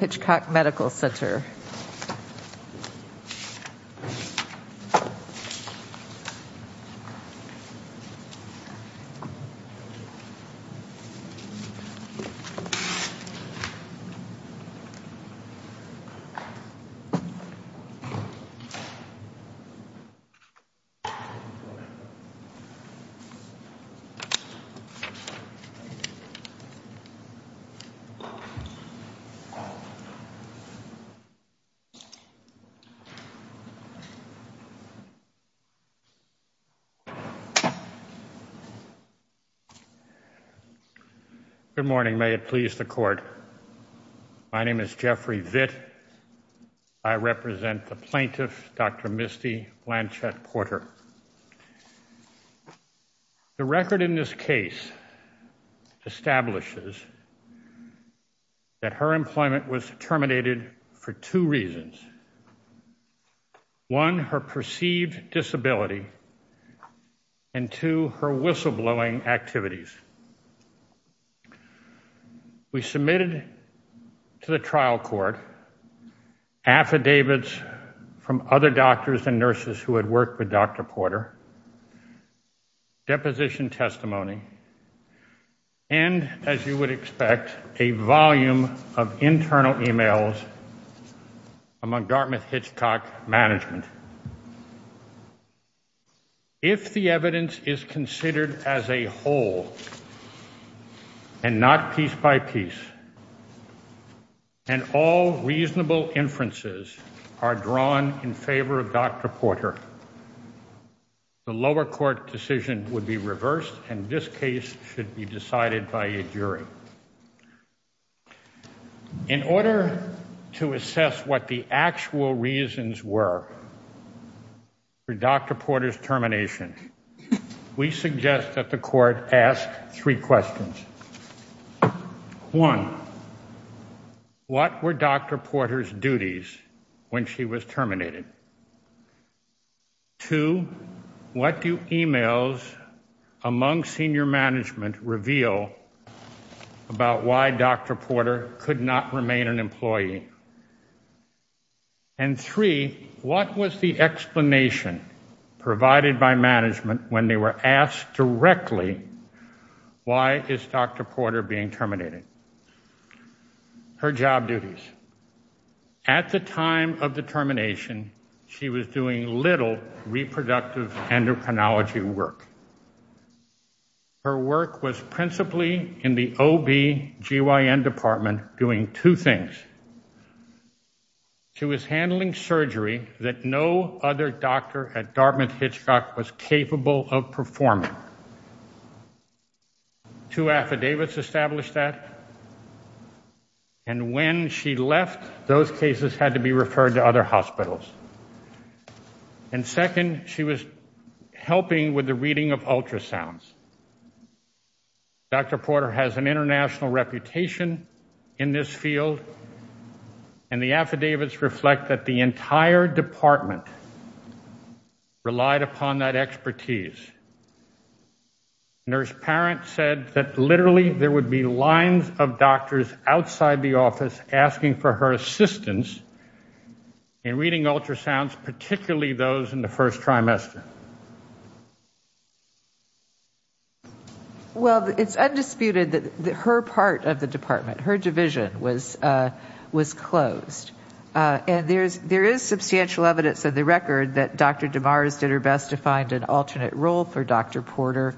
nter. Good morning. My name is Jeffrey Vitt. I represent the plaintiff, Dr. Misty Blanchette Porter. The record in this case establishes that her employment was terminated for two reasons. One, her perceived disability. And two, her whistleblowing activities. We submitted to the trial court affidavits from other doctors and nurses who had worked with Dr. Porter, deposition testimony, and as you would expect, a volume of internal e-mails among Dartmouth-Hitchcock management. If the evidence is considered as a whole and not piece by piece, and all reasonable inferences are drawn in favor of Dr. Porter, the lower court decision would be reversed and this case should be decided by a jury. In order to assess what the actual reasons were for Dr. Porter's termination, we suggest that the court ask three questions. One, what were Dr. Porter's duties when she was terminated? Two, what do e-mails among senior management reveal about why Dr. Porter could not remain an employee? And three, what was the explanation provided by management when they were asked directly, why is Dr. Porter being terminated? Her job duties. At the time of the termination, she was doing little reproductive endocrinology work. Her work was principally in the OBGYN department doing two things. She was handling surgery that no other doctor at Dartmouth-Hitchcock was capable of performing. Two affidavits established that. And when she left, those cases had to be referred to other hospitals. And second, she was helping with the reading of ultrasounds. Dr. Porter has an international reputation in this field, and the affidavits reflect that the entire department relied upon that expertise. Nurse Parent said that literally there would be lines of doctors outside the office asking for her assistance in reading ultrasounds, particularly those in the first trimester. Well, it's undisputed that her part of the department, her division, was closed. And there is substantial evidence in the record that Dr. DeMars did her best to find an alternate role for Dr. Porter,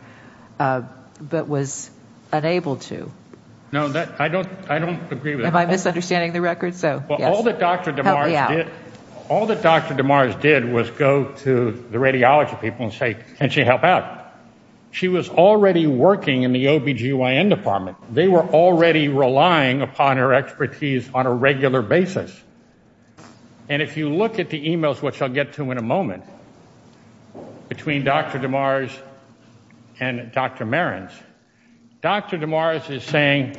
but was unable to. No, I don't agree with that. Am I misunderstanding the record? Well, all that Dr. DeMars did was go to the radiology people and say, can she help out? She was already working in the OBGYN department. They were already relying upon her expertise on a regular basis. And if you look at the e-mails, which I'll get to in a moment, between Dr. DeMars and Dr. Marans, Dr. DeMars is saying,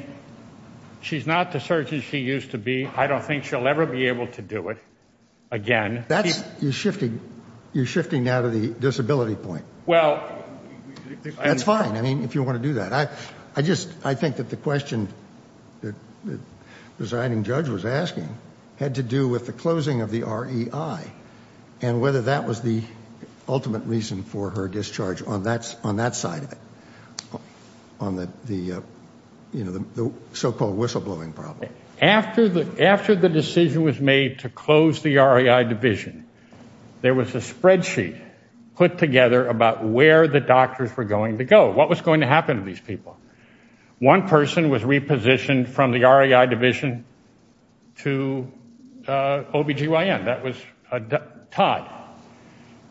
she's not the surgeon she used to be. I don't think she'll ever be able to do it again. You're shifting now to the disability point. That's fine, I mean, if you want to do that. I think that the question the presiding judge was asking had to do with the closing of the REI and whether that was the ultimate reason for her discharge on that side of it, on the so-called whistleblowing problem. After the decision was made to close the REI division, there was a spreadsheet put together about where the doctors were going to go, what was going to happen to these people. One person was repositioned from the REI division to OBGYN. That was Todd.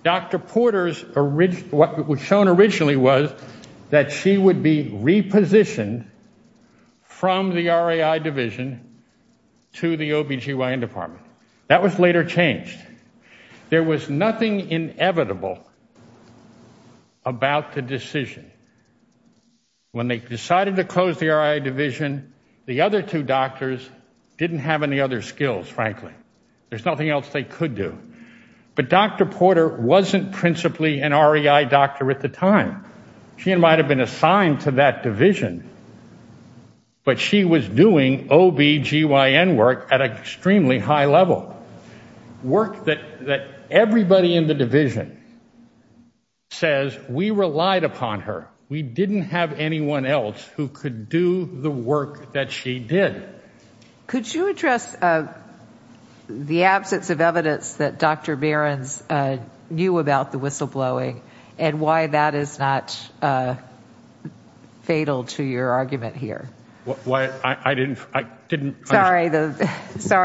Dr. Porter's, what was shown originally was that she would be repositioned from the REI division to the OBGYN department. That was later changed. There was nothing inevitable about the decision. When they decided to close the REI division, the other two doctors didn't have any other skills, frankly. There's nothing else they could do. But Dr. Porter wasn't principally an REI doctor at the time. She might have been assigned to that division, but she was doing OBGYN work at an extremely high level. Work that everybody in the division says we relied upon her. We didn't have anyone else who could do the work that she did. Could you address the absence of evidence that Dr. Behrens knew about the whistleblowing and why that is not fatal to your argument here? Sorry,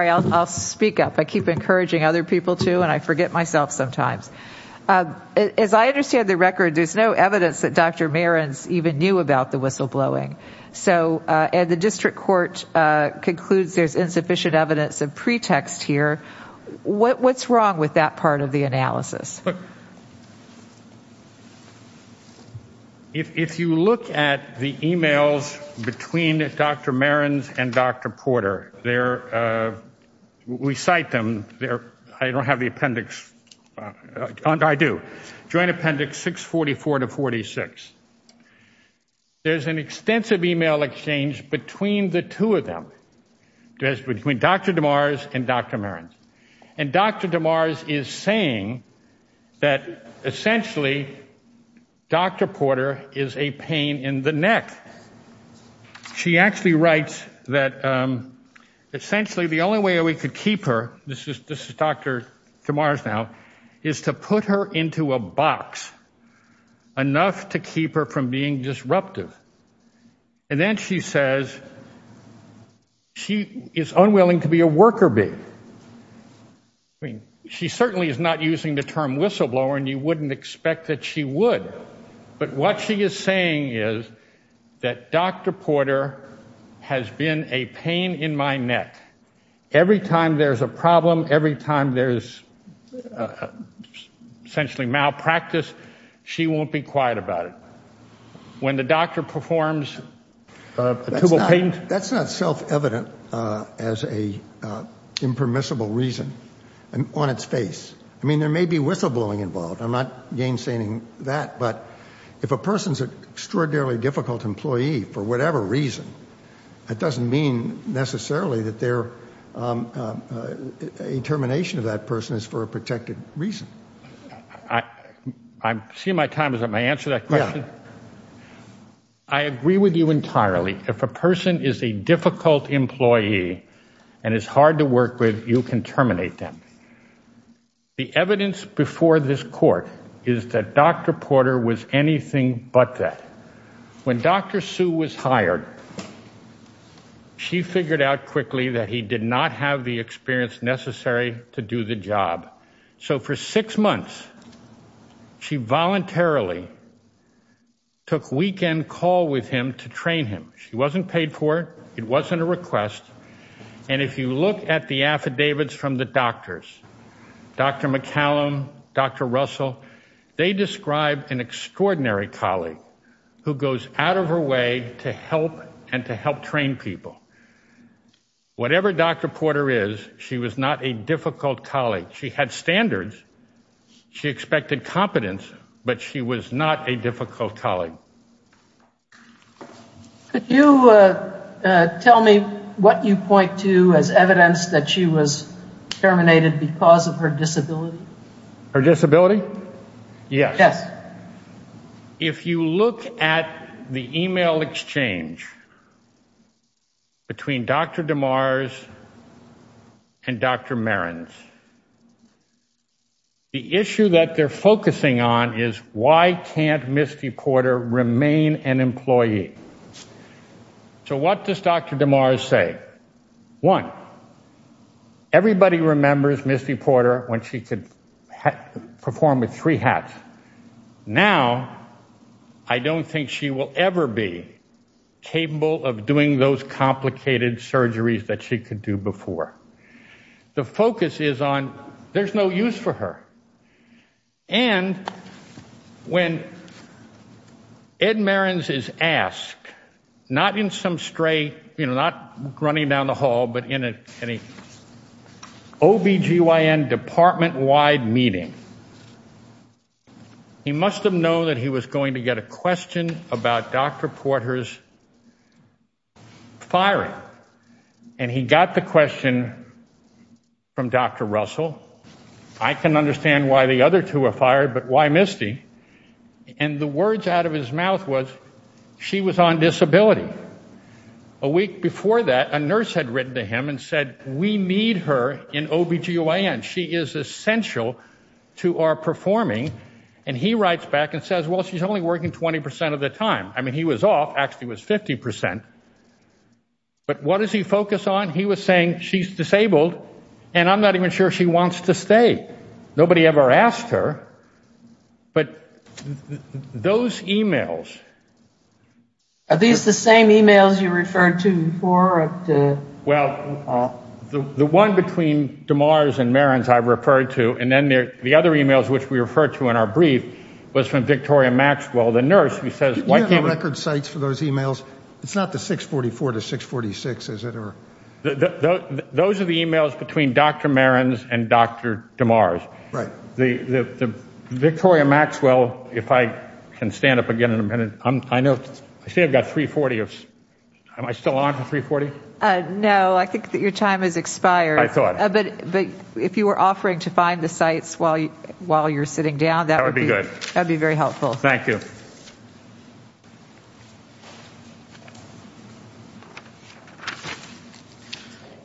I'll speak up. I keep encouraging other people too, and I forget myself sometimes. As I understand the record, there's no evidence that Dr. Behrens even knew about the whistleblowing. The district court concludes there's insufficient evidence of pretext here. If you look at the e-mails between Dr. Behrens and Dr. Porter, we cite them. I don't have the appendix. I do. Joint appendix 644 to 46. There's an extensive e-mail exchange between the two of them, between Dr. DeMars and Dr. Behrens. And Dr. DeMars is saying that essentially Dr. Porter is a pain in the neck. She actually writes that essentially the only way we could keep her, this is Dr. DeMars now, is to put her into a box enough to keep her from being disruptive. And then she says she is unwilling to be a worker bee. She certainly is not using the term whistleblower, and you wouldn't expect that she would. But what she is saying is that Dr. Porter has been a pain in my neck. Every time there's a problem, every time there's essentially malpractice, she won't be quiet about it. When the doctor performs tubal pain. That's not self-evident as an impermissible reason on its face. I mean, there may be whistleblowing involved. I'm not gainsigning that. But if a person is an extraordinarily difficult employee for whatever reason, that doesn't mean necessarily that their determination of that person is for a protected reason. I'm seeing my time. Is that my answer to that question? Yeah. I agree with you entirely. If a person is a difficult employee and is hard to work with, you can terminate them. The evidence before this court is that Dr. Porter was anything but that. When Dr. Sue was hired, she figured out quickly that he did not have the experience necessary to do the job. So for six months, she voluntarily took weekend call with him to train him. She wasn't paid for it. It wasn't a request. And if you look at the affidavits from the doctors, Dr. McCallum, Dr. Russell, they describe an extraordinary colleague who goes out of her way to help and to help train people. Whatever Dr. Porter is, she was not a difficult colleague. She had standards. She expected competence, but she was not a difficult colleague. Could you tell me what you point to as evidence that she was terminated because of her disability? Her disability? Yes. Yes. If you look at the e-mail exchange between Dr. DeMars and Dr. Marans, the issue that they're focusing on is why can't Misty Porter remain an employee? So what does Dr. DeMars say? One, everybody remembers Misty Porter when she could perform with three hats. Now I don't think she will ever be capable of doing those complicated surgeries that she could do before. The focus is on there's no use for her. And when Ed Marans is asked, not in some stray, you know, not running down the hall, but in an OBGYN department-wide meeting, he must have known that he was going to get a question about Dr. Porter's firing. And he got the question from Dr. Russell. I can understand why the other two were fired, but why Misty? And the words out of his mouth was she was on disability. A week before that, a nurse had written to him and said, we need her in OBGYN. She is essential to our performing. And he writes back and says, well, she's only working 20% of the time. I mean, he was off. Actually, it was 50%. But what does he focus on? He was saying she's disabled, and I'm not even sure she wants to stay. Nobody ever asked her. But those e-mails. Are these the same e-mails you referred to before? Well, the one between DeMars and Marans I referred to, and then the other e-mails which we referred to in our brief was from Victoria Maxwell, the nurse. Do you have the record sites for those e-mails? It's not the 644 to 646, is it? Those are the e-mails between Dr. Marans and Dr. DeMars. Victoria Maxwell, if I can stand up again in a minute. I say I've got 340. Am I still on for 340? No, I think that your time has expired. I thought. But if you were offering to find the sites while you're sitting down, that would be very helpful. Thank you.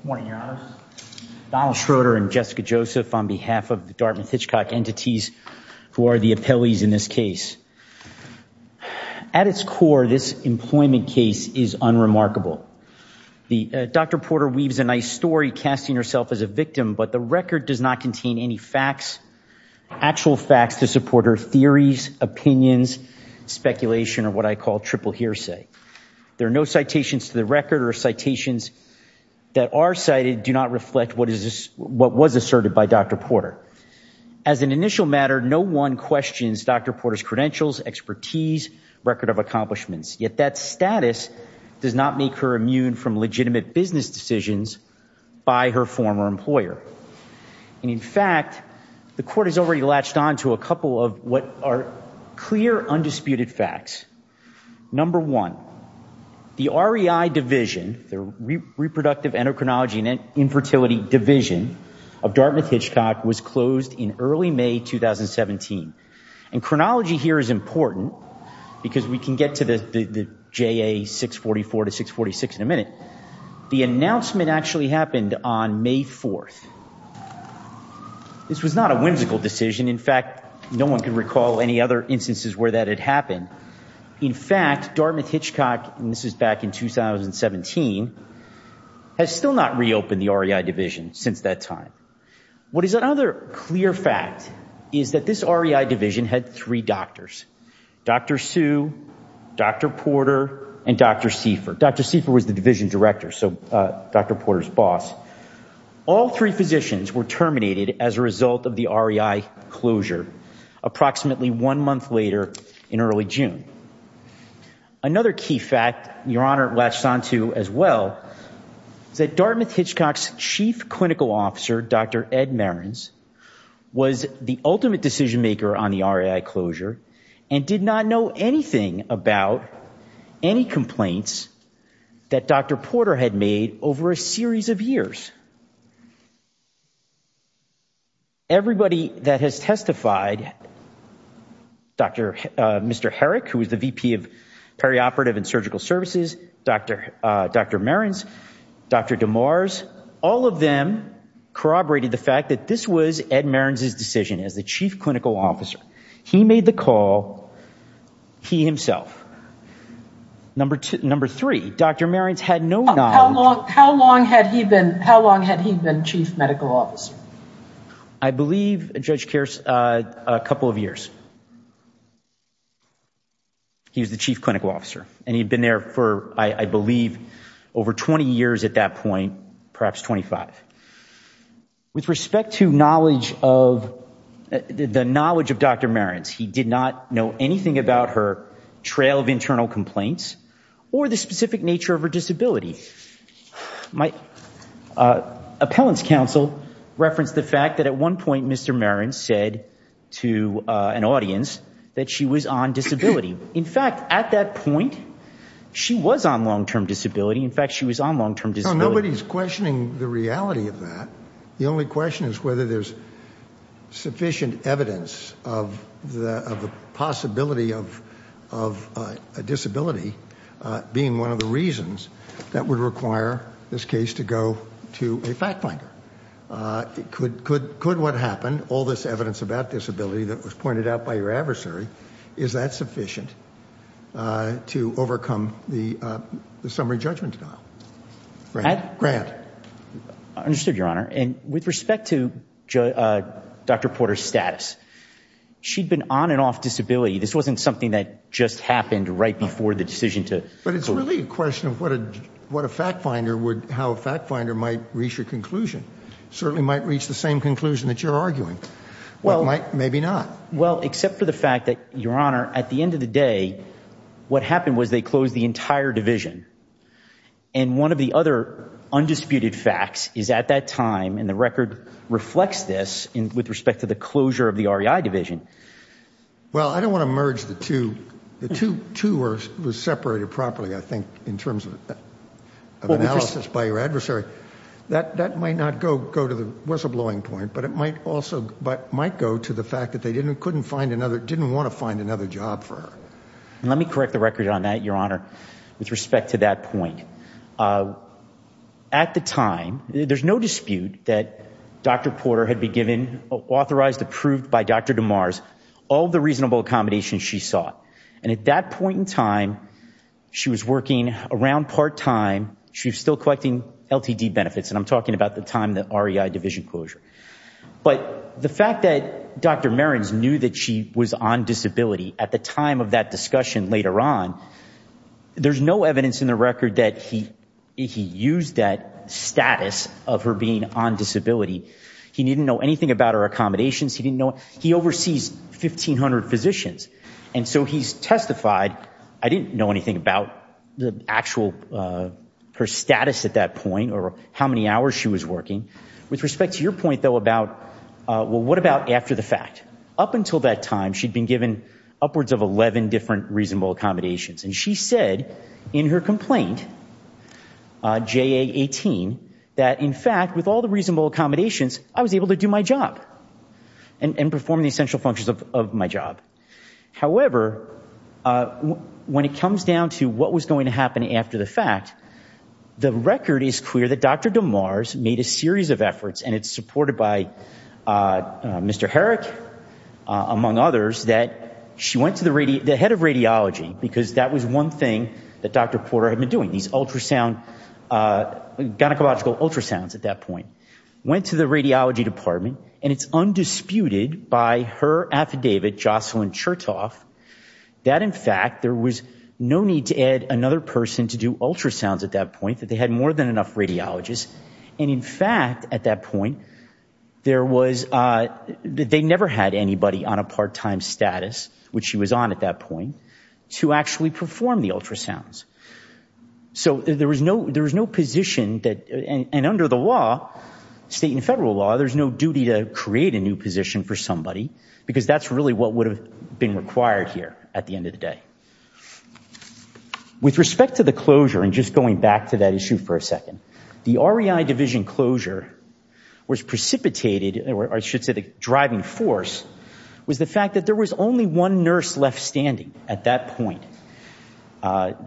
Good morning, Your Honor. Donald Schroeder and Jessica Joseph on behalf of the Dartmouth-Hitchcock entities who are the appellees in this case. At its core, this employment case is unremarkable. Dr. Porter weaves a nice story, casting herself as a victim, but the record does not contain any facts, actual facts to support her theories, opinions, speculation, or what I call triple hearsay. There are no citations to the record or citations that are cited do not reflect what was asserted by Dr. Porter. As an initial matter, no one questions Dr. Porter's credentials, expertise, record of accomplishments. Yet that status does not make her immune from legitimate business decisions by her former employer. And in fact, the court has already latched on to a couple of what are clear, undisputed facts. Number one, the REI Division, the Reproductive Endocrinology and Infertility Division of Dartmouth-Hitchcock, was closed in early May 2017. And chronology here is important because we can get to the JA 644 to 646 in a minute. The announcement actually happened on May 4th. This was not a whimsical decision. In fact, no one can recall any other instances where that had happened. In fact, Dartmouth-Hitchcock, and this is back in 2017, has still not reopened the REI Division since that time. What is another clear fact is that this REI Division had three doctors, Dr. Sue, Dr. Porter, and Dr. Seifer. Dr. Seifer was the Division Director, so Dr. Porter's boss. All three physicians were terminated as a result of the REI closure approximately one month later in early June. Another key fact, Your Honor, latched on to as well, is that Dartmouth-Hitchcock's Chief Clinical Officer, Dr. Ed Marans, was the ultimate decision-maker on the REI closure and did not know anything about any complaints that Dr. Porter had made over a series of years. Everybody that has testified, Mr. Herrick, who was the VP of Perioperative and Surgical Services, Dr. Marans, Dr. DeMars, all of them corroborated the fact that this was Ed Marans' decision as the Chief Clinical Officer. He made the call, he himself. Number three, Dr. Marans had no knowledge. How long had he been Chief Medical Officer? I believe, Judge Kearse, a couple of years. He was the Chief Clinical Officer, and he'd been there for, I believe, over 20 years at that point, perhaps 25. With respect to the knowledge of Dr. Marans, he did not know anything about her trail of internal complaints or the specific nature of her disability. My appellant's counsel referenced the fact that at one point Mr. Marans said to an audience that she was on disability. In fact, at that point, she was on long-term disability. In fact, she was on long-term disability. Well, nobody's questioning the reality of that. The only question is whether there's sufficient evidence of the possibility of a disability being one of the reasons that would require this case to go to a fact-finder. Could what happened, all this evidence about disability that was pointed out by your adversary, is that sufficient to overcome the summary judgment trial? Grant. I understood, Your Honor. And with respect to Dr. Porter's status, she'd been on and off disability. This wasn't something that just happened right before the decision to... But it's really a question of what a fact-finder would, how a fact-finder might reach a conclusion. Certainly might reach the same conclusion that you're arguing. Well... Maybe not. Well, except for the fact that, Your Honor, at the end of the day, what happened was they closed the entire division. And one of the other undisputed facts is at that time, and the record reflects this with respect to the closure of the REI division... Well, I don't want to merge the two. The two were separated properly, I think, in terms of analysis by your adversary. That might not go to the whistleblowing point, but it might also go to the fact that they didn't want to find another job for her. Let me correct the record on that, Your Honor, with respect to that point. At the time, there's no dispute that Dr. Porter had been given, authorized, approved by Dr. DeMars, all the reasonable accommodations she sought. And at that point in time, she was working around part-time. She was still collecting LTD benefits, and I'm talking about the time of the REI division closure. But the fact that Dr. Marans knew that she was on disability at the time of that discussion later on, there's no evidence in the record that he used that status of her being on disability. He didn't know anything about her accommodations. He oversees 1,500 physicians, and so he's testified, I didn't know anything about her status at that point or how many hours she was working. With respect to your point, though, about, well, what about after the fact? Up until that time, she'd been given upwards of 11 different reasonable accommodations. And she said in her complaint, JA-18, that, in fact, with all the reasonable accommodations, I was able to do my job and perform the essential functions of my job. However, when it comes down to what was going to happen after the fact, the record is clear that Dr. DeMars made a series of efforts, and it's supported by Mr. Herrick, among others, that she went to the head of radiology, because that was one thing that Dr. Porter had been doing, these ultrasound, gynecological ultrasounds at that point. Went to the radiology department, and it's undisputed by her affidavit, Jocelyn Chertoff, that, in fact, there was no need to add another person to do ultrasounds at that point, that they had more than enough radiologists. And, in fact, at that point, there was, they never had anybody on a part-time status, which she was on at that point, to actually perform the ultrasounds. So there was no position that, and under the law, state and federal law, there's no duty to create a new position for somebody, because that's really what would have been required here at the end of the day. With respect to the closure, and just going back to that issue for a second, the REI division closure was precipitated, or I should say the driving force, was the fact that there was only one nurse left standing at that point.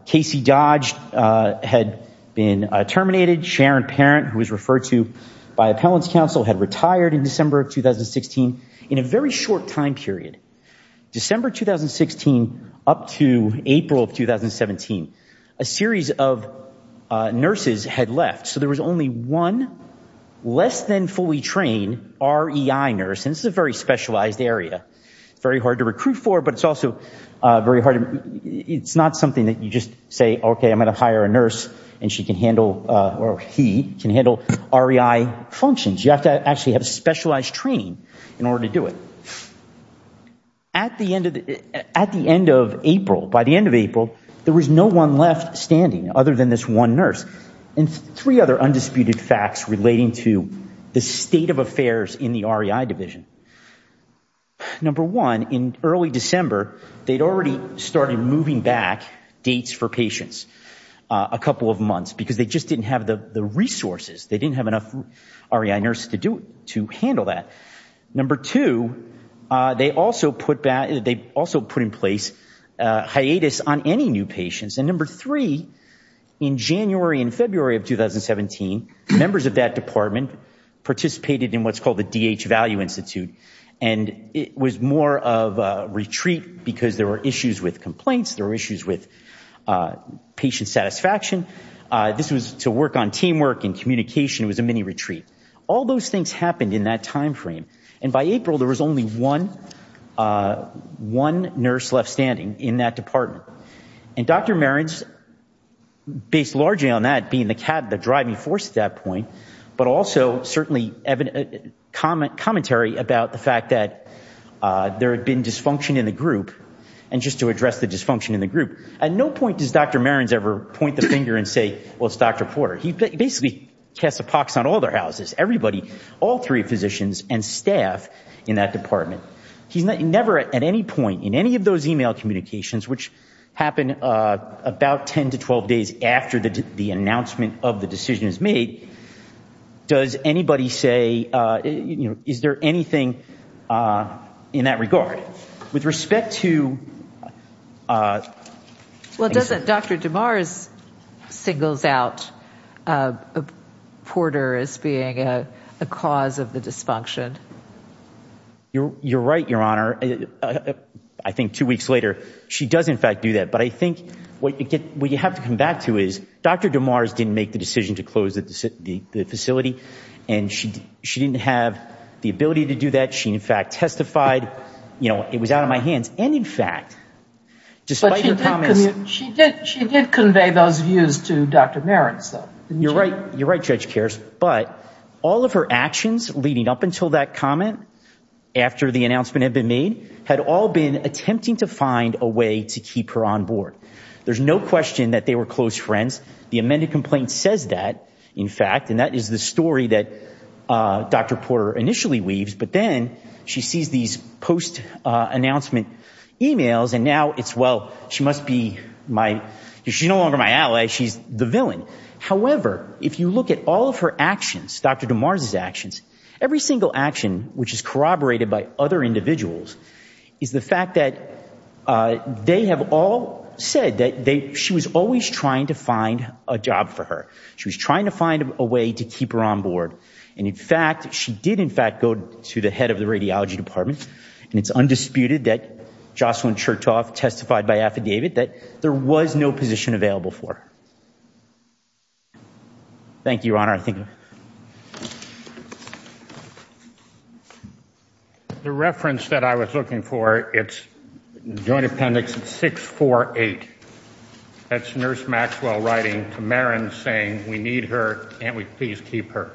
Casey Dodge had been terminated. Sharon Parent, who was referred to by appellant's counsel, had retired in December of 2016, in a very short time period. December 2016 up to April of 2017, a series of nurses had left. So there was only one less than fully trained REI nurse, and this is a very specialized area. Very hard to recruit for, but it's also very hard, it's not something that you just say, okay, I'm going to hire a nurse and she can handle, or he can handle REI functions. You have to actually have specialized training in order to do it. At the end of April, by the end of April, there was no one left standing other than this one nurse. And three other undisputed facts relating to the state of affairs in the REI division. Number one, in early December, they'd already started moving back dates for patients a couple of months, because they just didn't have the resources. They didn't have enough REI nurses to handle that. Number two, they also put in place hiatus on any new patients. And number three, in January and February of 2017, members of that department participated in what's called the DH Value Institute, and it was more of a retreat because there were issues with complaints, there were issues with patient satisfaction. This was to work on teamwork and communication. It was a mini-retreat. All those things happened in that time frame. And by April, there was only one nurse left standing in that department. And Dr. Marans, based largely on that being the driving force at that point, but also certainly commentary about the fact that there had been dysfunction in the group, and just to address the dysfunction in the group, at no point does Dr. Marans ever point the finger and say, well, it's Dr. Porter. He basically casts a pox on all their houses, everybody, all three physicians and staff in that department. He's never at any point in any of those e-mail communications, which happen about 10 to 12 days after the announcement of the decision is made, does anybody say, you know, is there anything in that regard? So with respect to ‑‑ Well, doesn't Dr. DeMars single out Porter as being a cause of the dysfunction? You're right, Your Honor. I think two weeks later, she does, in fact, do that. But I think what you have to come back to is Dr. DeMars didn't make the decision to close the facility, and she didn't have the ability to do that. She, in fact, testified, you know, it was out of my hands. And, in fact, despite her comments ‑‑ But she did convey those views to Dr. Marans, though, didn't she? You're right, Judge Kares. But all of her actions leading up until that comment, after the announcement had been made, had all been attempting to find a way to keep her on board. There's no question that they were close friends. The amended complaint says that, in fact, and that is the story that Dr. Porter initially weaves. But then she sees these post‑announcement e‑mails, and now it's, well, she must be my ‑‑ she's no longer my ally. She's the villain. However, if you look at all of her actions, Dr. DeMars' actions, every single action which is corroborated by other individuals is the fact that they have all said that she was always trying to find a job for her. She was trying to find a way to keep her on board. And, in fact, she did, in fact, go to the head of the radiology department. And it's undisputed that Jocelyn Chertoff testified by affidavit that there was no position available for her. Thank you, Your Honor. The reference that I was looking for, it's Joint Appendix 648. That's Nurse Maxwell writing to Marins saying, we need her, can't we please keep her?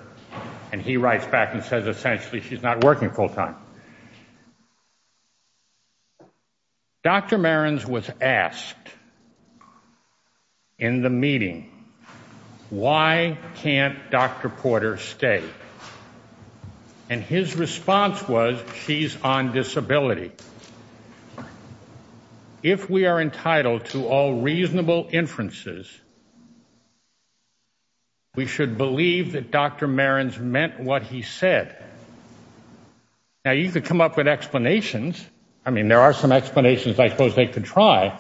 And he writes back and says, essentially, she's not working full time. Dr. Marins was asked in the meeting, why can't Dr. Porter stay? And his response was, she's on disability. If we are entitled to all reasonable inferences, we should believe that Dr. Marins meant what he said. Now, you could come up with explanations. I mean, there are some explanations I suppose they could try.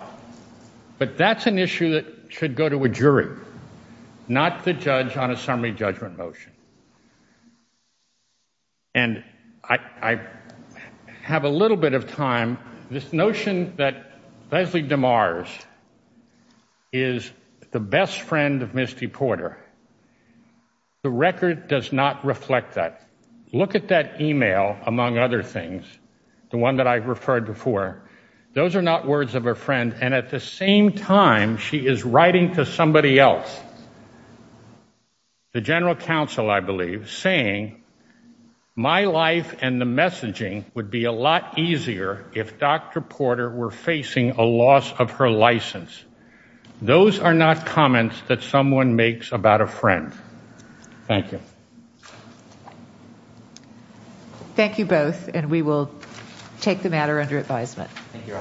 But that's an issue that should go to a jury, not the judge on a summary judgment motion. And I have a little bit of time. This notion that Leslie DeMars is the best friend of Misty Porter, the record does not reflect that. Look at that e-mail, among other things, the one that I referred before. Those are not words of a friend. And at the same time, she is writing to somebody else, the general counsel, I believe, saying my life and the messaging would be a lot easier if Dr. Porter were facing a loss of her license. Those are not comments that someone makes about a friend. Thank you. Thank you both, and we will take the matter under advisement. Thank you.